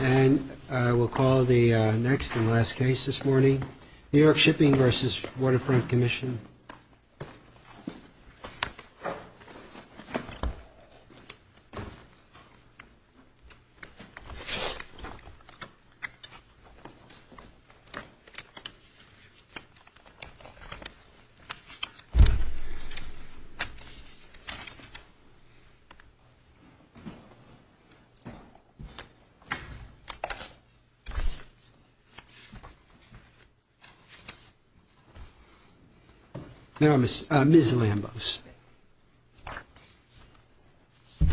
And I will call the next and last case this morning. New York Shipping v. Waterfront Commission Ms. Lambos Good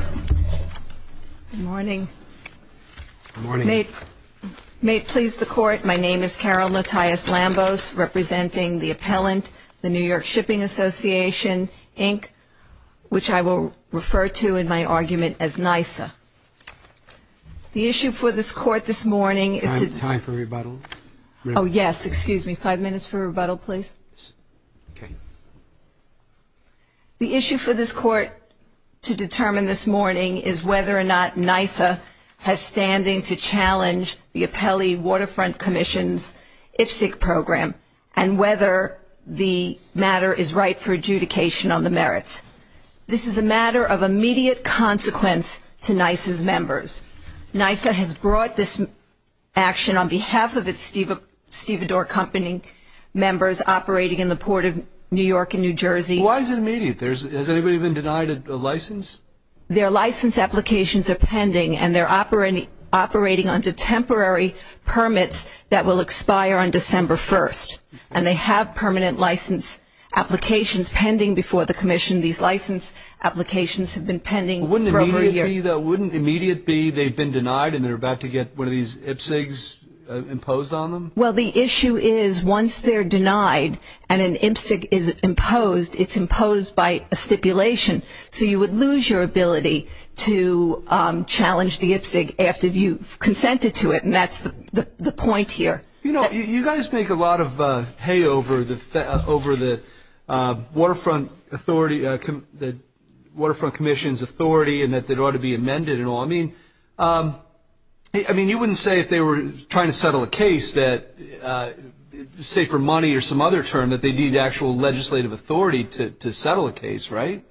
morning. Good morning. May it please the Court, my name is Carol Lattias Lambos, representing the appellant, the New York Shipping Association, Inc., which I will refer to in my argument as NYSA. The issue for this Court this morning is to Time for rebuttal. Oh, yes, excuse me. Five minutes for rebuttal, please. The issue for this Court to determine this morning is whether or not NYSA has standing to challenge the appellee Waterfront Commission's whether the matter is right for adjudication on the merits. This is a matter of immediate consequence to NYSA's members. NYSA has brought this action on behalf of its stevedore company members operating in the port of New York and New Jersey. Why is it immediate? Has anybody been denied a license? Their license applications are pending and they're operating under temporary permits that will expire on December 1st. And they have permanent license applications pending before the Commission. These license applications have been pending for over a year. Wouldn't immediate be they've been denied and they're about to get one of these IPSEGs imposed on them? Well, the issue is once they're denied and an IPSEG is imposed, it's imposed by a stipulation. So you would lose your ability to challenge the IPSEG after you've consented to it, and that's the point here. You know, you guys make a lot of hay over the Waterfront Commission's authority and that it ought to be amended and all. I mean, you wouldn't say if they were trying to settle a case that, say for money or some other term, that they'd need actual legislative authority to settle a case, right?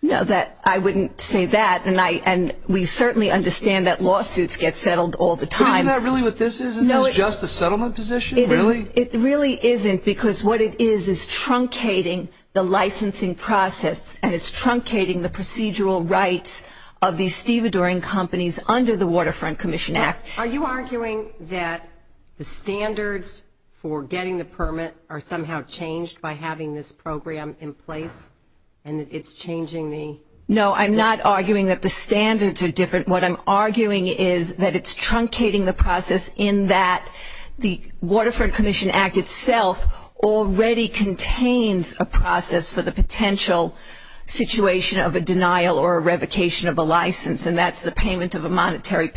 No, I wouldn't say that, and we certainly understand that lawsuits get settled all the time. But isn't that really what this is? Is this just a settlement position, really? It really isn't because what it is is truncating the licensing process and it's truncating the procedural rights of these stevedoring companies under the Waterfront Commission Act. Are you arguing that the standards for getting the permit are somehow changed by having this program in place and it's changing the? No, I'm not arguing that the standards are different. What I'm arguing is that it's truncating the process in that the Waterfront Commission Act itself already contains a process for the potential situation of a denial or a revocation of a license, and that's the payment of a monetary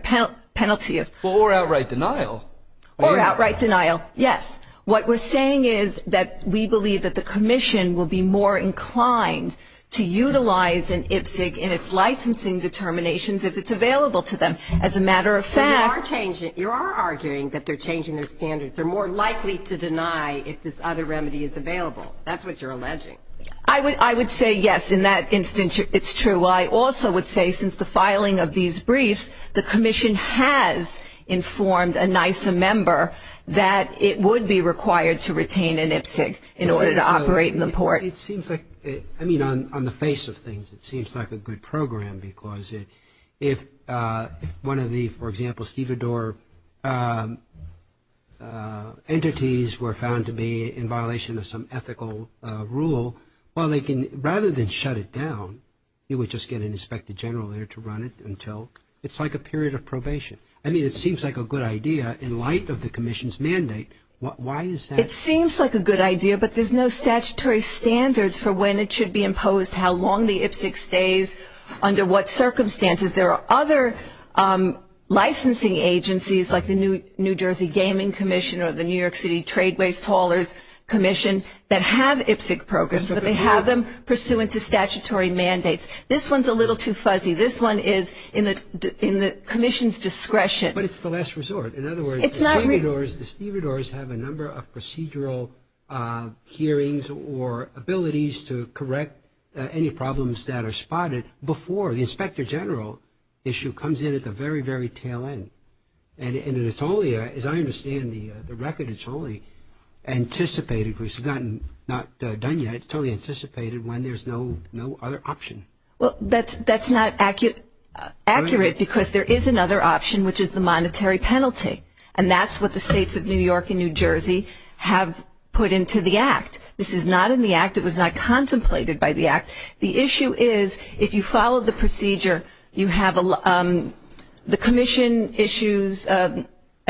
penalty. Or outright denial. Or outright denial, yes. What we're saying is that we believe that the commission will be more inclined to utilize an IPSC in its licensing determinations if it's available to them. As a matter of fact. You are arguing that they're changing their standards. They're more likely to deny if this other remedy is available. That's what you're alleging. I would say, yes, in that instance it's true. I also would say since the filing of these briefs, the commission has informed a NISA member that it would be required to retain an IPSC in order to operate in the port. It seems like, I mean, on the face of things, it seems like a good program because if one of the, for example, stevedore entities were found to be in violation of some ethical rule, well, they can, rather than shut it down, you would just get an inspector general there to run it until, it's like a period of probation. I mean, it seems like a good idea in light of the commission's mandate. Why is that? It seems like a good idea, but there's no statutory standards for when it should be imposed, how long the IPSC stays, under what circumstances. There are other licensing agencies like the New Jersey Gaming Commission or the New York City Tradeways Taller's Commission that have IPSC programs, but they have them pursuant to statutory mandates. This one's a little too fuzzy. This one is in the commission's discretion. But it's the last resort. In other words, the stevedores have a number of procedural hearings or abilities to correct any problems that are spotted before the inspector general issue comes in at the very, very tail end. And it's only, as I understand the record, it's only anticipated. It's not done yet. It's only anticipated when there's no other option. Well, that's not accurate because there is another option, which is the monetary penalty, and that's what the states of New York and New Jersey have put into the act. This is not in the act. It was not contemplated by the act. The issue is if you follow the procedure, the commission issues an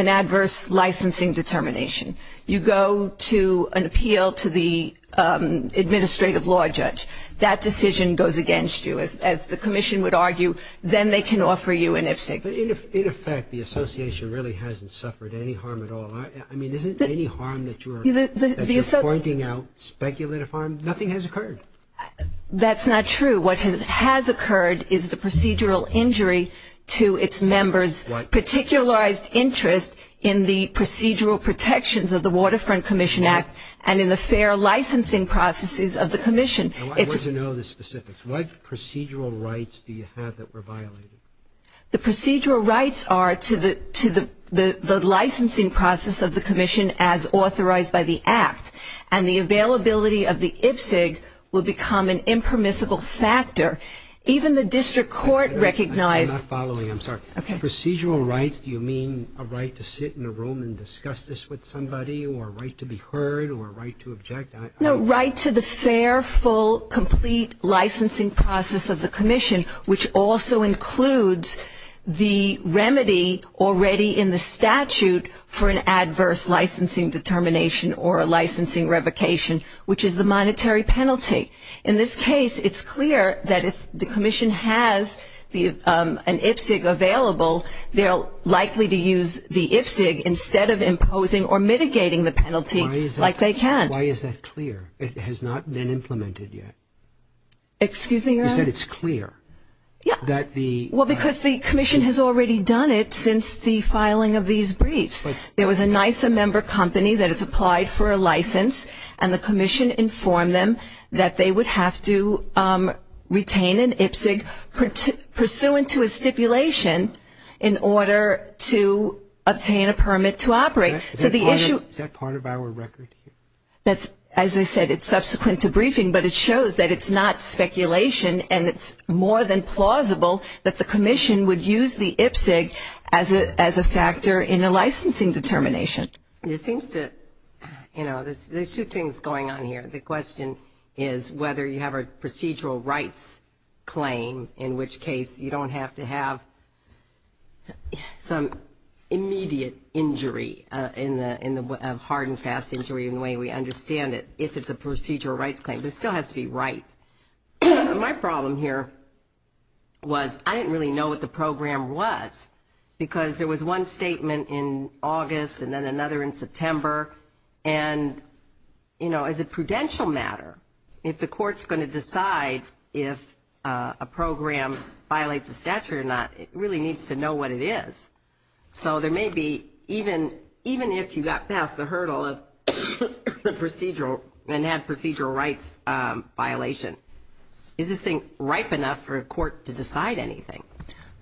adverse licensing determination. You go to an appeal to the administrative law judge. That decision goes against you, as the commission would argue. Then they can offer you an IPSC. But in effect, the association really hasn't suffered any harm at all. I mean, isn't any harm that you're pointing out speculative harm? Nothing has occurred. That's not true. What has occurred is the procedural injury to its members' particularized interest in the procedural protections of the Waterfront Commission Act and in the fair licensing processes of the commission. I want to know the specifics. What procedural rights do you have that were violated? The procedural rights are to the licensing process of the commission as authorized by the act, and the availability of the IPSC will become an impermissible factor. Even the district court recognized. I'm not following. I'm sorry. Okay. Procedural rights, do you mean a right to sit in a room and discuss this with somebody or a right to be heard or a right to object? No, right to the fair, full, complete licensing process of the commission, which also includes the remedy already in the statute for an adverse licensing determination or a licensing revocation, which is the monetary penalty. In this case, it's clear that if the commission has an IPSC available, they're likely to use the IPSC instead of imposing or mitigating the penalty like they can. Why is that clear? Excuse me, Your Honor? You said it's clear. Yeah. Well, because the commission has already done it since the filing of these briefs. There was a NISA member company that has applied for a license, and the commission informed them that they would have to retain an IPSC pursuant to a stipulation in order to obtain a permit to operate. Is that part of our record? That's, as I said, it's subsequent to briefing, but it shows that it's not speculation and it's more than plausible that the commission would use the IPSC as a factor in a licensing determination. It seems to, you know, there's two things going on here. The question is whether you have a procedural rights claim, in which case you don't have to have some immediate injury, a hard and fast injury in the way we understand it, if it's a procedural rights claim. It still has to be right. My problem here was I didn't really know what the program was because there was one statement in August and then another in September, and, you know, as a prudential matter, if the court's going to decide if a program violates a statute or not, it really needs to know what it is. So there may be, even if you got past the hurdle of the procedural and have procedural rights violation, is this thing ripe enough for a court to decide anything?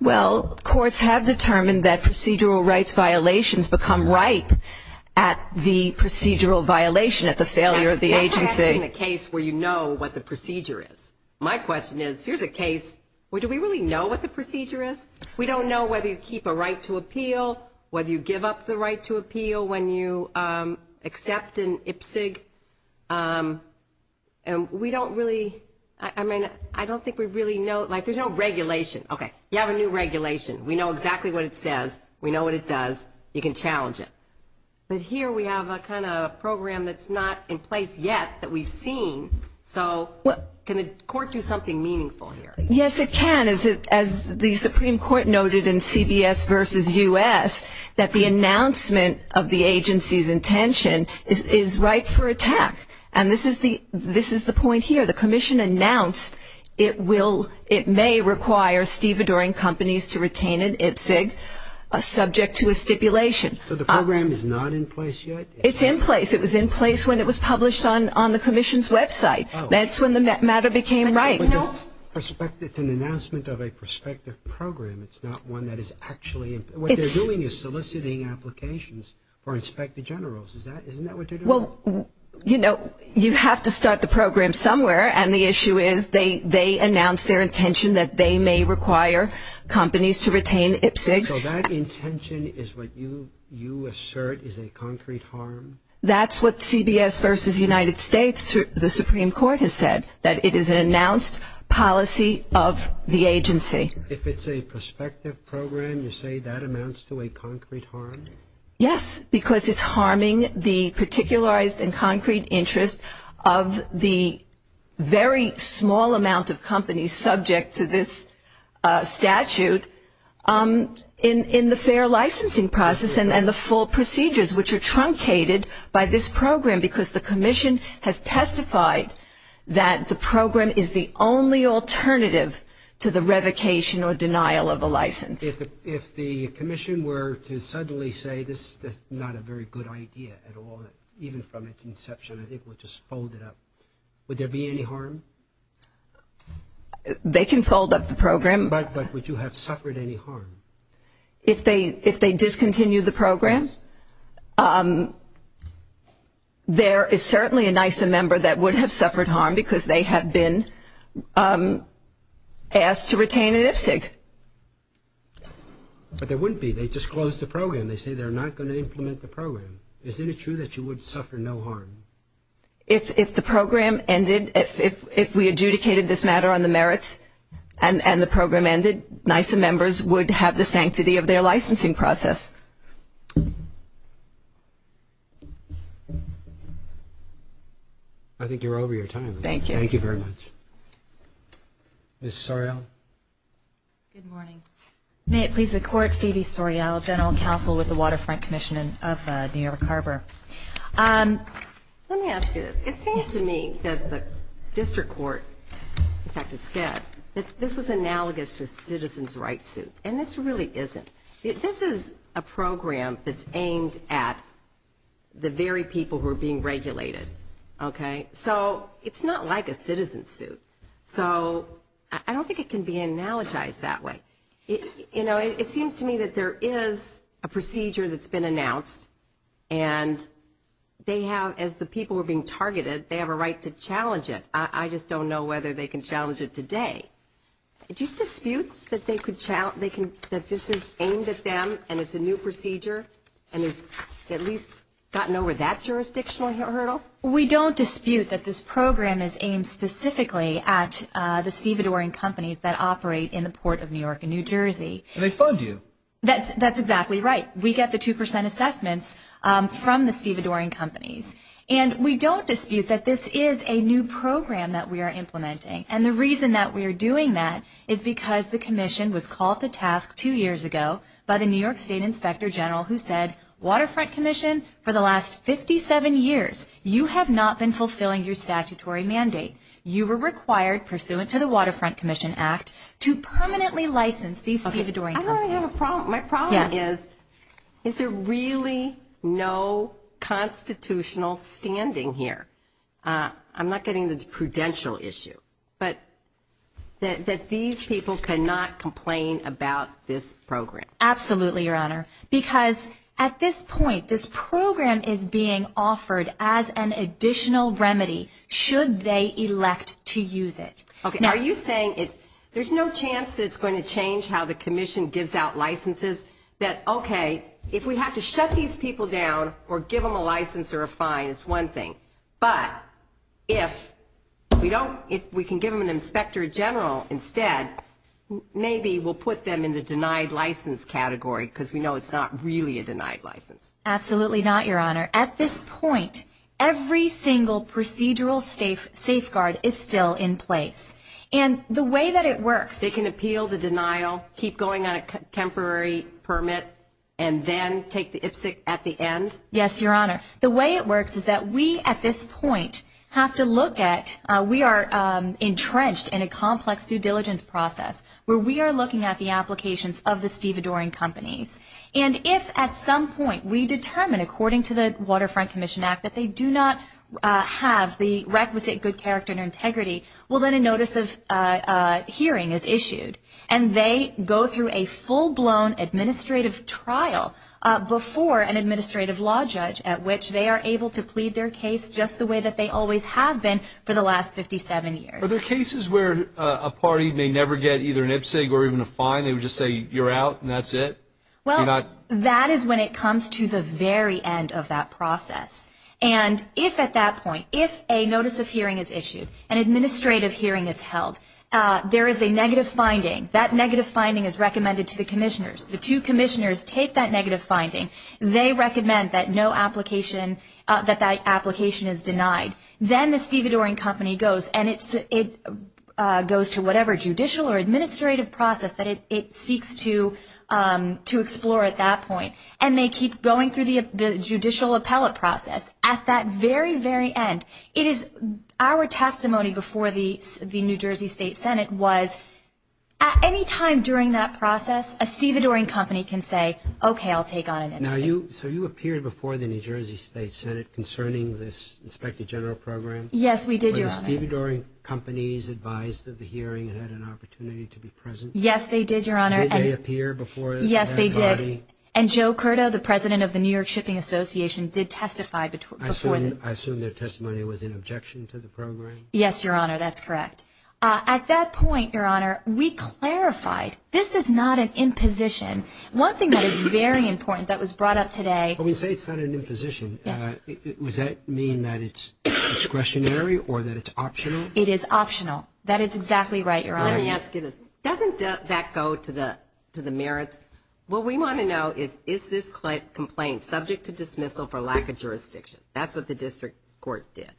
Well, courts have determined that procedural rights violations become ripe at the procedural violation, at the failure of the agency. Let's imagine a case where you know what the procedure is. My question is, here's a case where do we really know what the procedure is? We don't know whether you keep a right to appeal, whether you give up the right to appeal when you accept an IPSC. And we don't really, I mean, I don't think we really know, like there's no regulation. Okay, you have a new regulation. We know exactly what it says. We know what it does. You can challenge it. But here we have a kind of program that's not in place yet that we've seen. So can the court do something meaningful here? Yes, it can. As the Supreme Court noted in CBS versus U.S., that the announcement of the agency's intention is ripe for attack. And this is the point here. The commission announced it may require stevedoring companies to retain an IPSC subject to a stipulation. So the program is not in place yet? It's in place. It was in place when it was published on the commission's website. That's when the matter became ripe. It's an announcement of a prospective program. It's not one that is actually, what they're doing is soliciting applications for inspector generals. Isn't that what they're doing? Well, you know, you have to start the program somewhere, and the issue is they announced their intention that they may require companies to retain IPSC. So that intention is what you assert is a concrete harm? That's what CBS versus United States, the Supreme Court has said, that it is an announced policy of the agency. If it's a prospective program, you say that amounts to a concrete harm? Yes, because it's harming the particularized and concrete interests of the very small amount of companies subject to this statute. In the fair licensing process and the full procedures which are truncated by this program because the commission has testified that the program is the only alternative to the revocation or denial of a license. If the commission were to suddenly say this is not a very good idea at all, even from its inception, I think we'll just fold it up, would there be any harm? They can fold up the program. But would you have suffered any harm? If they discontinue the program, there is certainly a NISA member that would have suffered harm because they have been asked to retain an IPSC. But there wouldn't be. They just closed the program. They say they're not going to implement the program. Isn't it true that you would suffer no harm? If the program ended, if we adjudicated this matter on the merits and the program ended, NISA members would have the sanctity of their licensing process. I think you're over your time. Thank you. Thank you very much. Ms. Sorrell. Good morning. May it please the Court, Phoebe Sorrell, General Counsel with the Waterfront Commission of New York Harbor. Let me ask you this. It seems to me that the district court, in fact, it said that this was analogous to a citizen's rights suit, and this really isn't. This is a program that's aimed at the very people who are being regulated, okay? So it's not like a citizen's suit. So I don't think it can be analogized that way. It seems to me that there is a procedure that's been announced, and they have, as the people are being targeted, they have a right to challenge it. I just don't know whether they can challenge it today. Do you dispute that this is aimed at them and it's a new procedure and it's at least gotten over that jurisdictional hurdle? We don't dispute that this program is aimed specifically at the stevedoring companies that operate in the Port of New York and New Jersey. And they fund you. That's exactly right. We get the 2 percent assessments from the stevedoring companies. And we don't dispute that this is a new program that we are implementing. And the reason that we are doing that is because the commission was called to task two years ago by the New York State Inspector General who said, Waterfront Commission, for the last 57 years you have not been fulfilling your statutory mandate. You were required, pursuant to the Waterfront Commission Act, to permanently license these stevedoring companies. I don't really have a problem. My problem is, is there really no constitutional standing here? I'm not getting the prudential issue. But that these people cannot complain about this program. Absolutely, Your Honor. Because at this point, this program is being offered as an additional remedy should they elect to use it. Are you saying there's no chance that it's going to change how the commission gives out licenses? That, okay, if we have to shut these people down or give them a license or a fine, it's one thing. But if we can give them an inspector general instead, maybe we'll put them in the denied license category because we know it's not really a denied license. Absolutely not, Your Honor. At this point, every single procedural safeguard is still in place. And the way that it works. They can appeal the denial, keep going on a temporary permit, and then take the IPSC at the end? Yes, Your Honor. The way it works is that we at this point have to look at, we are entrenched in a complex due diligence process where we are looking at the applications of the stevedoring companies. And if at some point we determine, according to the Waterfront Commission Act, that they do not have the requisite good character and integrity, well then a notice of hearing is issued. And they go through a full-blown administrative trial before an administrative law judge at which they are able to plead their case just the way that they always have been for the last 57 years. Are there cases where a party may never get either an IPSC or even a fine? They would just say you're out and that's it? Well, that is when it comes to the very end of that process. And if at that point, if a notice of hearing is issued, an administrative hearing is held, there is a negative finding. That negative finding is recommended to the commissioners. The two commissioners take that negative finding. They recommend that no application, that that application is denied. Then the stevedoring company goes, and it goes to whatever judicial or administrative process that it seeks to explore at that point. And they keep going through the judicial appellate process. At that very, very end, it is our testimony before the New Jersey State Senate was at any time during that process, a stevedoring company can say, okay, I'll take on an IPSC. Now, so you appeared before the New Jersey State Senate concerning this inspector general program? Yes, we did, Your Honor. Were the stevedoring companies advised of the hearing and had an opportunity to be present? Yes, they did, Your Honor. Did they appear before that party? Yes, they did. And Joe Curdo, the president of the New York Shipping Association, did testify before that. I assume their testimony was in objection to the program? Yes, Your Honor, that's correct. At that point, Your Honor, we clarified this is not an imposition. One thing that is very important that was brought up today. When you say it's not an imposition, does that mean that it's discretionary or that it's optional? It is optional. That is exactly right, Your Honor. Let me ask you this. Doesn't that go to the merits? What we want to know is is this complaint subject to dismissal for lack of jurisdiction? That's what the district court did.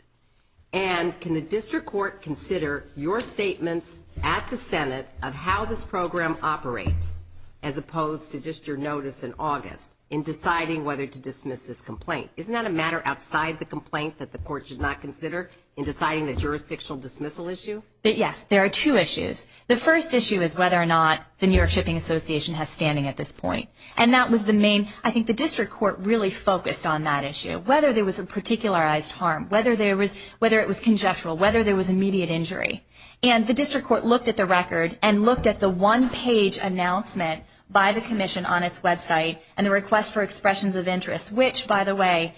And can the district court consider your statements at the Senate of how this program operates as opposed to just your notice in August in deciding whether to dismiss this complaint? Isn't that a matter outside the complaint that the court should not consider in deciding the jurisdictional dismissal issue? Yes, there are two issues. The first issue is whether or not the New York Shipping Association has standing at this point. And that was the main. I think the district court really focused on that issue, whether there was a particularized harm, whether it was conjectural, whether there was immediate injury. And the district court looked at the record and looked at the one-page announcement by the commission on its website and the request for expressions of interest, which, by the way,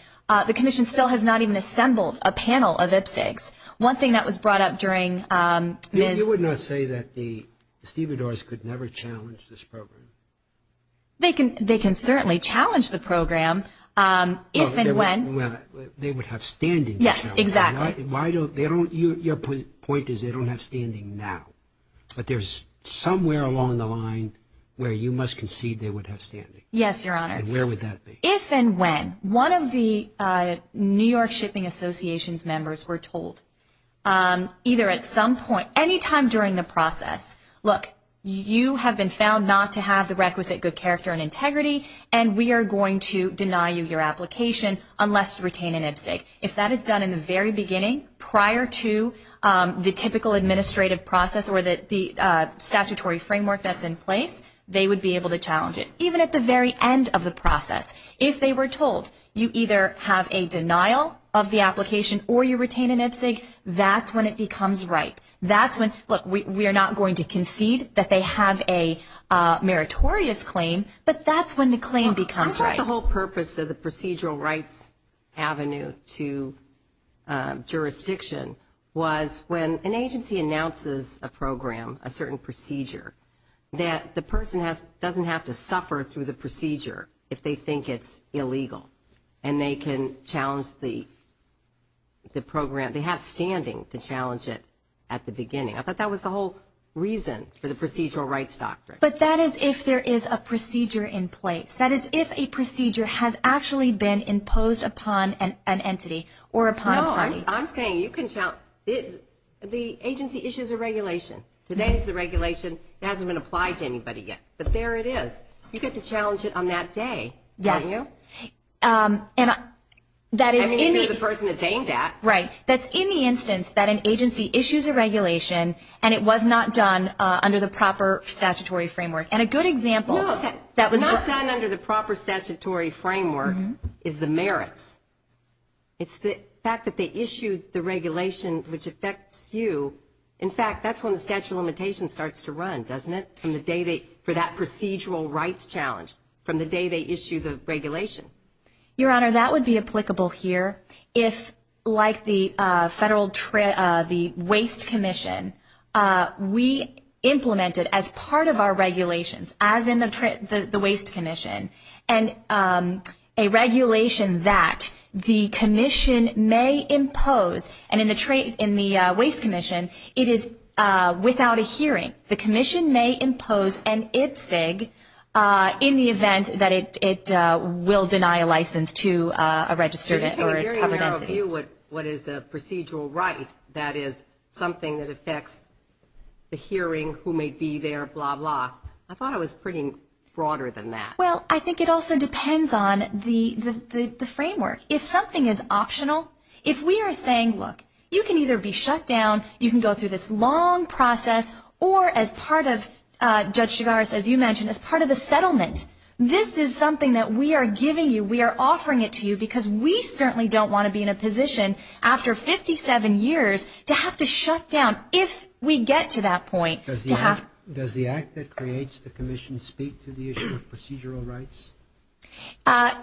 the commission still has not even assembled a panel of IPSEGs. One thing that was brought up during Ms. You did not say that the stevedores could never challenge this program. They can certainly challenge the program if and when. They would have standing. Yes, exactly. Your point is they don't have standing now. But there's somewhere along the line where you must concede they would have standing. Yes, Your Honor. And where would that be? If and when. One of the New York Shipping Association's members were told either at some point, any time during the process, look, you have been found not to have the requisite good character and integrity, and we are going to deny you your application unless you retain an IPSEG. If that is done in the very beginning prior to the typical administrative process or the statutory framework that's in place, they would be able to challenge it. But even at the very end of the process, if they were told you either have a denial of the application or you retain an IPSEG, that's when it becomes right. That's when, look, we are not going to concede that they have a meritorious claim, but that's when the claim becomes right. I thought the whole purpose of the procedural rights avenue to jurisdiction was when an agency announces a program, a certain procedure, that the person doesn't have to suffer through the procedure if they think it's illegal and they can challenge the program. They have standing to challenge it at the beginning. I thought that was the whole reason for the procedural rights doctrine. But that is if there is a procedure in place. That is if a procedure has actually been imposed upon an entity or upon a party. I'm saying the agency issues a regulation. Today is the regulation. It hasn't been applied to anybody yet. But there it is. You get to challenge it on that day, don't you? Yes. I mean, if you're the person it's aimed at. Right. That's in the instance that an agency issues a regulation and it was not done under the proper statutory framework. And a good example that was not done under the proper statutory framework is the merits. It's the fact that they issued the regulation which affects you. In fact, that's when the statute of limitations starts to run, doesn't it, for that procedural rights challenge from the day they issue the regulation. Your Honor, that would be applicable here if, like the Waste Commission, we implemented as part of our regulations, as in the Waste Commission, and a regulation that the commission may impose. And in the Waste Commission, it is without a hearing. The commission may impose an IPCG in the event that it will deny a license to a registered entity. To a very narrow view, what is a procedural right? That is something that affects the hearing, who may be there, blah, blah. I thought it was pretty broader than that. Well, I think it also depends on the framework. If something is optional, if we are saying, look, you can either be shut down, you can go through this long process, or as part of, Judge Chigaris, as you mentioned, as part of the settlement, this is something that we are giving you, we are offering it to you because we certainly don't want to be in a position after 57 years to have to shut down if we get to that point. Does the act that creates the commission speak to the issue of procedural rights?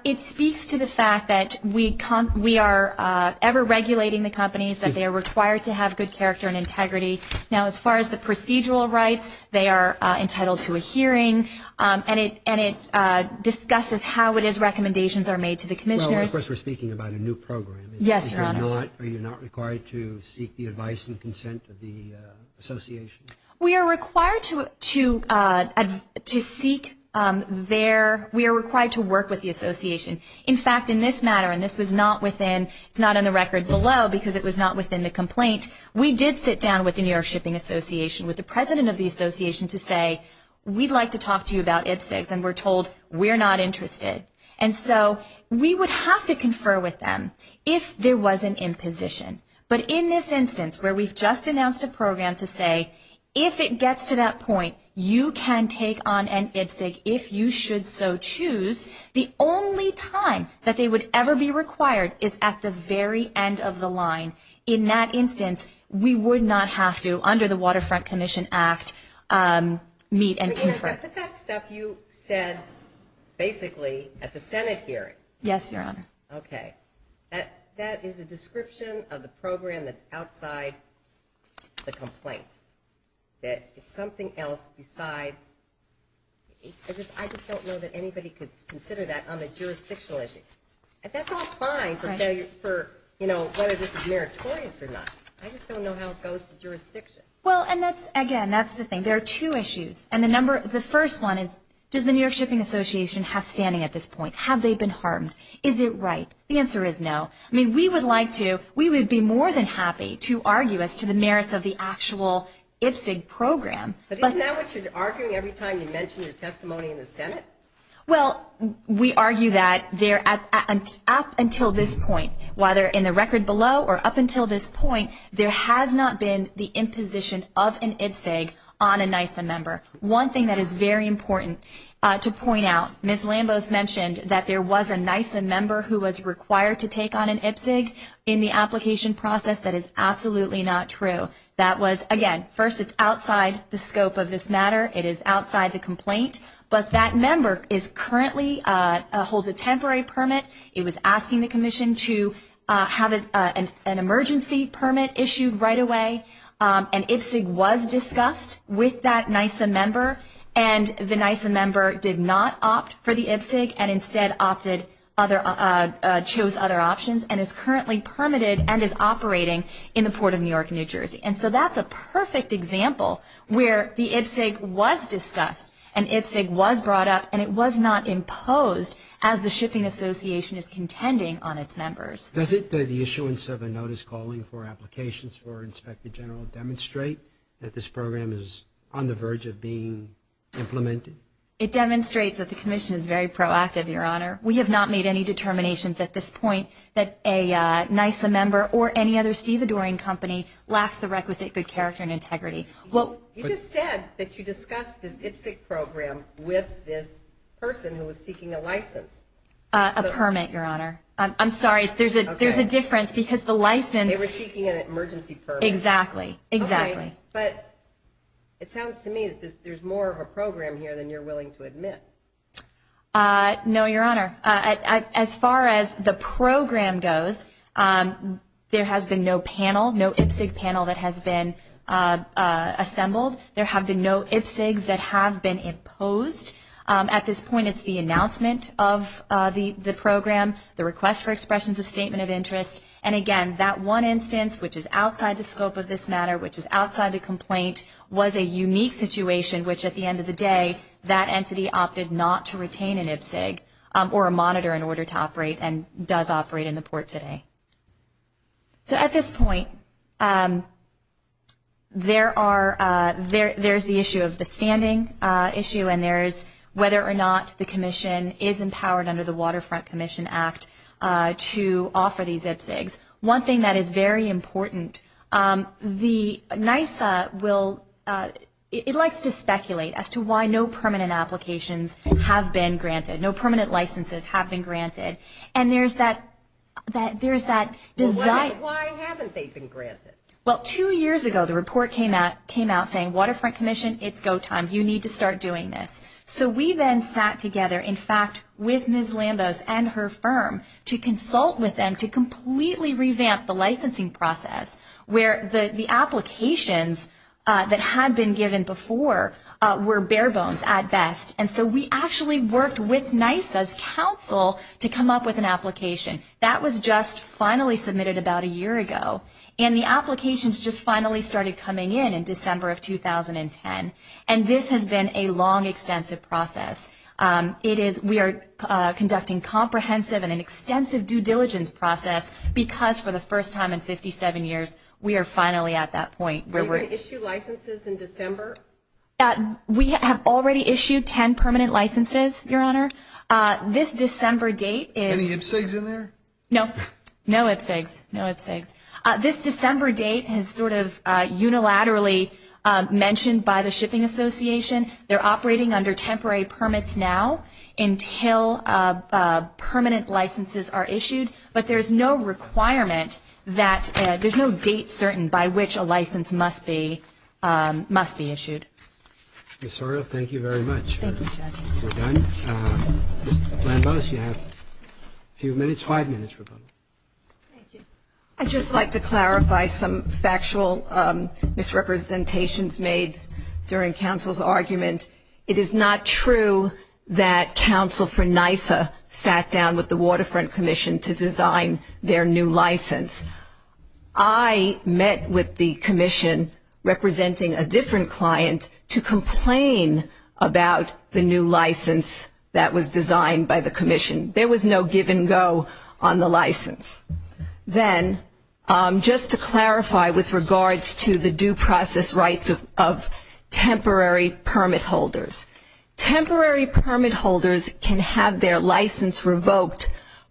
It speaks to the fact that we are ever-regulating the companies, that they are required to have good character and integrity. Now, as far as the procedural rights, they are entitled to a hearing, and it discusses how it is recommendations are made to the commissioners. Well, of course, we're speaking about a new program. Yes, Your Honor. Are you not required to seek the advice and consent of the association? We are required to seek their, we are required to work with the association. In fact, in this matter, and this was not within, it's not in the record below because it was not within the complaint, we did sit down with the New York Shipping Association, with the president of the association to say, we'd like to talk to you about IPSEGS, and we're told we're not interested. And so we would have to confer with them if there was an imposition. But in this instance, where we've just announced a program to say, if it gets to that point, you can take on an IPSEG if you should so choose. The only time that they would ever be required is at the very end of the line. In that instance, we would not have to, under the Waterfront Commission Act, meet and confer. I put that stuff you said basically at the Senate hearing. Yes, Your Honor. Okay. That is a description of the program that's outside the complaint. That it's something else besides, I just don't know that anybody could consider that on a jurisdictional issue. And that's all fine for, you know, whether this is meritorious or not. I just don't know how it goes to jurisdiction. Well, and that's, again, that's the thing. There are two issues. And the first one is, does the New York Shipping Association have standing at this point? Have they been harmed? Is it right? The answer is no. I mean, we would like to, we would be more than happy to argue as to the merits of the actual IPSEG program. But isn't that what you're arguing every time you mention your testimony in the Senate? Well, we argue that up until this point, whether in the record below or up until this point, there has not been the imposition of an IPSEG on a NISA member. One thing that is very important to point out, Ms. Lambos mentioned that there was a NISA member who was required to take on an IPSEG. In the application process, that is absolutely not true. That was, again, first it's outside the scope of this matter. It is outside the complaint. But that member is currently, holds a temporary permit. It was asking the commission to have an emergency permit issued right away. An IPSEG was discussed with that NISA member, and the NISA member did not opt for the IPSEG and instead opted, chose other options and is currently permitted and is operating in the Port of New York, New Jersey. And so that's a perfect example where the IPSEG was discussed and IPSEG was brought up and it was not imposed as the shipping association is contending on its members. Does the issuance of a notice calling for applications for Inspector General demonstrate that this program is on the verge of being implemented? It demonstrates that the commission is very proactive, Your Honor. We have not made any determinations at this point that a NISA member or any other stevedoring company lacks the requisite good character and integrity. You just said that you discussed this IPSEG program with this person who was seeking a license. A permit, Your Honor. I'm sorry. There's a difference because the license. They were seeking an emergency permit. Exactly. But it sounds to me that there's more of a program here than you're willing to admit. No, Your Honor. As far as the program goes, there has been no panel, no IPSEG panel that has been assembled. There have been no IPSEGs that have been imposed. At this point, it's the announcement of the program, the request for expressions of statement of interest. And, again, that one instance, which is outside the scope of this matter, which is outside the complaint, was a unique situation, which at the end of the day that entity opted not to retain an IPSEG or a monitor in order to operate and does operate in the port today. So at this point, there's the issue of the standing issue and there's whether or not the commission is empowered under the Waterfront Commission Act to offer these IPSEGs. One thing that is very important, the NISA will, it likes to speculate as to why no permanent applications have been granted, no permanent licenses have been granted. And there's that desire. Well, why haven't they been granted? Well, two years ago, the report came out saying, Waterfront Commission, it's go time, you need to start doing this. So we then sat together, in fact, with Ms. Lambos and her firm to consult with them to completely revamp the licensing process where the applications that had been given before were bare bones at best. And so we actually worked with NISA's counsel to come up with an application. That was just finally submitted about a year ago. And the applications just finally started coming in in December of 2010. And this has been a long, extensive process. We are conducting comprehensive and an extensive due diligence process because for the first time in 57 years, we are finally at that point. Were you going to issue licenses in December? We have already issued 10 permanent licenses, Your Honor. This December date is... Any IPSEGs in there? No IPSEGs. No IPSEGs. This December date is sort of unilaterally mentioned by the Shipping Association. They're operating under temporary permits now until permanent licenses are issued. But there's no requirement that... There's no date certain by which a license must be issued. Ms. Sorrell, thank you very much. Thank you, Judge. We're done. Ms. Lambos, you have a few minutes, five minutes. Thank you. I'd just like to clarify some factual misrepresentations made during counsel's argument. It is not true that counsel for NISA sat down with the Waterfront Commission to design their new license. I met with the commission representing a different client to complain about the new license that was designed by the commission. Then, just to clarify with regards to the due process rights of temporary permit holders. Temporary permit holders can have their license revoked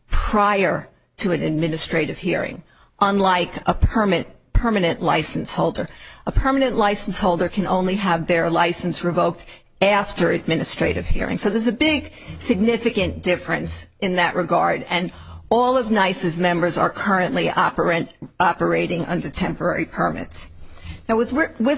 prior to an administrative hearing, unlike a permanent license holder. A permanent license holder can only have their license revoked after administrative hearing. So there's a big, significant difference in that regard. And all of NISA's members are currently operating under temporary permits. Now, with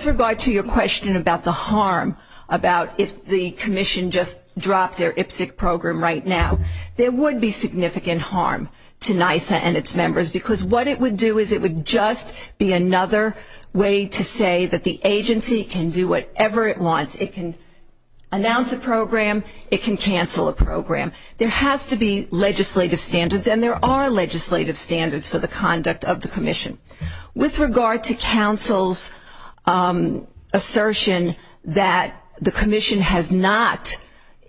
regard to your question about the harm, about if the commission just dropped their IPSC program right now, there would be significant harm to NISA and its members. Because what it would do is it would just be another way to say that the agency can do whatever it wants. It can cancel a program. There has to be legislative standards, and there are legislative standards for the conduct of the commission. With regard to counsel's assertion that the commission has not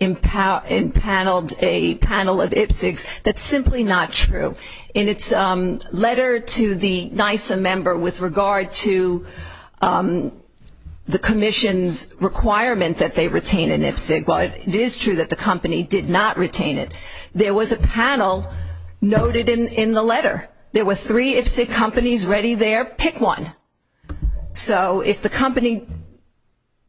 empaneled a panel of IPSCs, that's simply not true. In its letter to the NISA member with regard to the commission's requirement that they retain an IPSC, while it is true that the company did not retain it, there was a panel noted in the letter. There were three IPSC companies ready there. Pick one. So if the company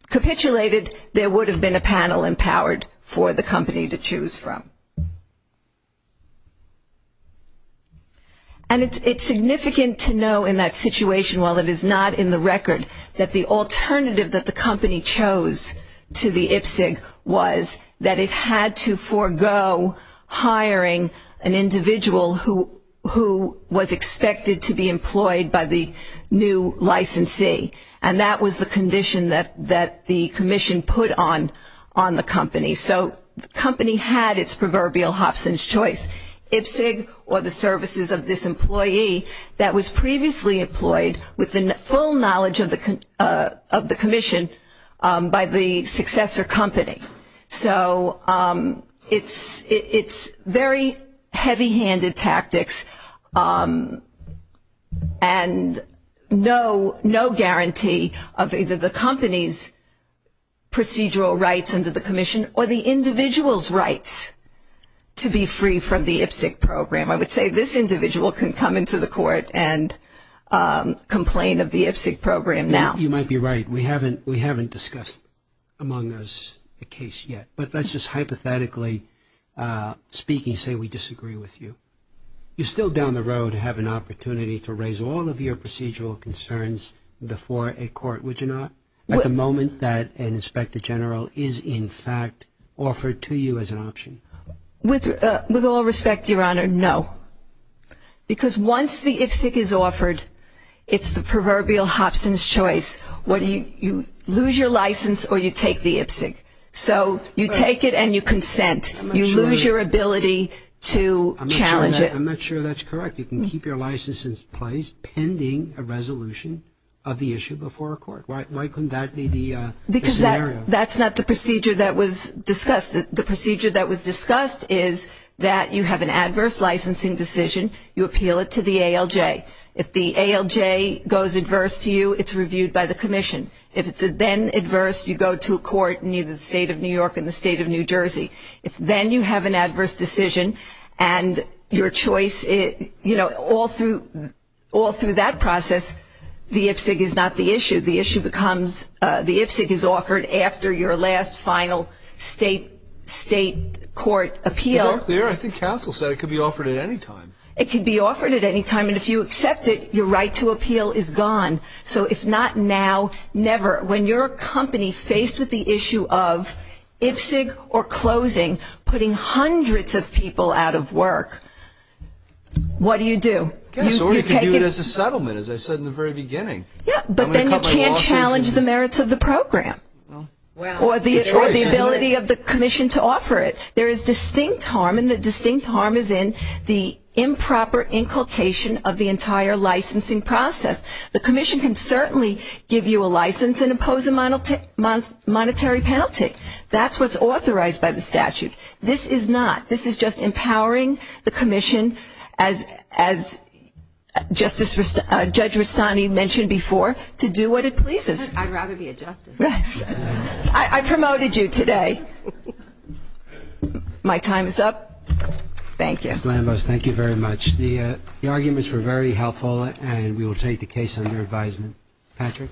capitulated, there would have been a panel empowered for the company to choose from. And it's significant to know in that situation, while it is not in the record, that the alternative that the company chose to the IPSC was that it had to forego hiring an individual who was expected to be employed by the new licensee. And that was the condition that the commission put on the company. So the company had its proverbial Hobson's choice, IPSC or the services of this employee that was previously employed with the full knowledge of the commission by the successor company. So it's very heavy-handed tactics and no guarantee of either the company's procedural rights under the commission or the individual's rights to be free from the IPSC program. I would say this individual can come into the court and complain of the IPSC program now. You might be right. We haven't discussed among us a case yet. But let's just hypothetically speaking, say we disagree with you. You're still down the road to have an opportunity to raise all of your procedural concerns before a court, would you not? At the moment that an inspector general is in fact offered to you as an option. With all respect, Your Honor, no. Because once the IPSC is offered, it's the proverbial Hobson's choice. You lose your license or you take the IPSC. So you take it and you consent. You lose your ability to challenge it. I'm not sure that's correct. You can keep your license in place pending a resolution of the issue before a court. Why couldn't that be the scenario? That's not the procedure that was discussed. The procedure that was discussed is that you have an adverse licensing decision. You appeal it to the ALJ. If the ALJ goes adverse to you, it's reviewed by the commission. If it's then adverse, you go to a court in either the State of New York or the State of New Jersey. If then you have an adverse decision and your choice, you know, all through that process, the IPSC is not the issue. The issue becomes the IPSC is offered after your last final state court appeal. It's up there. I think counsel said it could be offered at any time. It could be offered at any time. And if you accept it, your right to appeal is gone. So if not now, never. When you're a company faced with the issue of IPSC or closing, putting hundreds of people out of work, what do you do? Yes, or you can do it as a settlement, as I said in the very beginning. Yes, but then you can't challenge the merits of the program or the ability of the commission to offer it. There is distinct harm, and the distinct harm is in the improper inculcation of the entire licensing process. The commission can certainly give you a license and impose a monetary penalty. That's what's authorized by the statute. This is not. This is just empowering the commission, as Judge Rustani mentioned before, to do what it pleases. I'd rather be a justice. I promoted you today. My time is up. Thank you. Ms. Lambos, thank you very much. The arguments were very helpful, and we will take the case under advisement. Patrick. Thank you.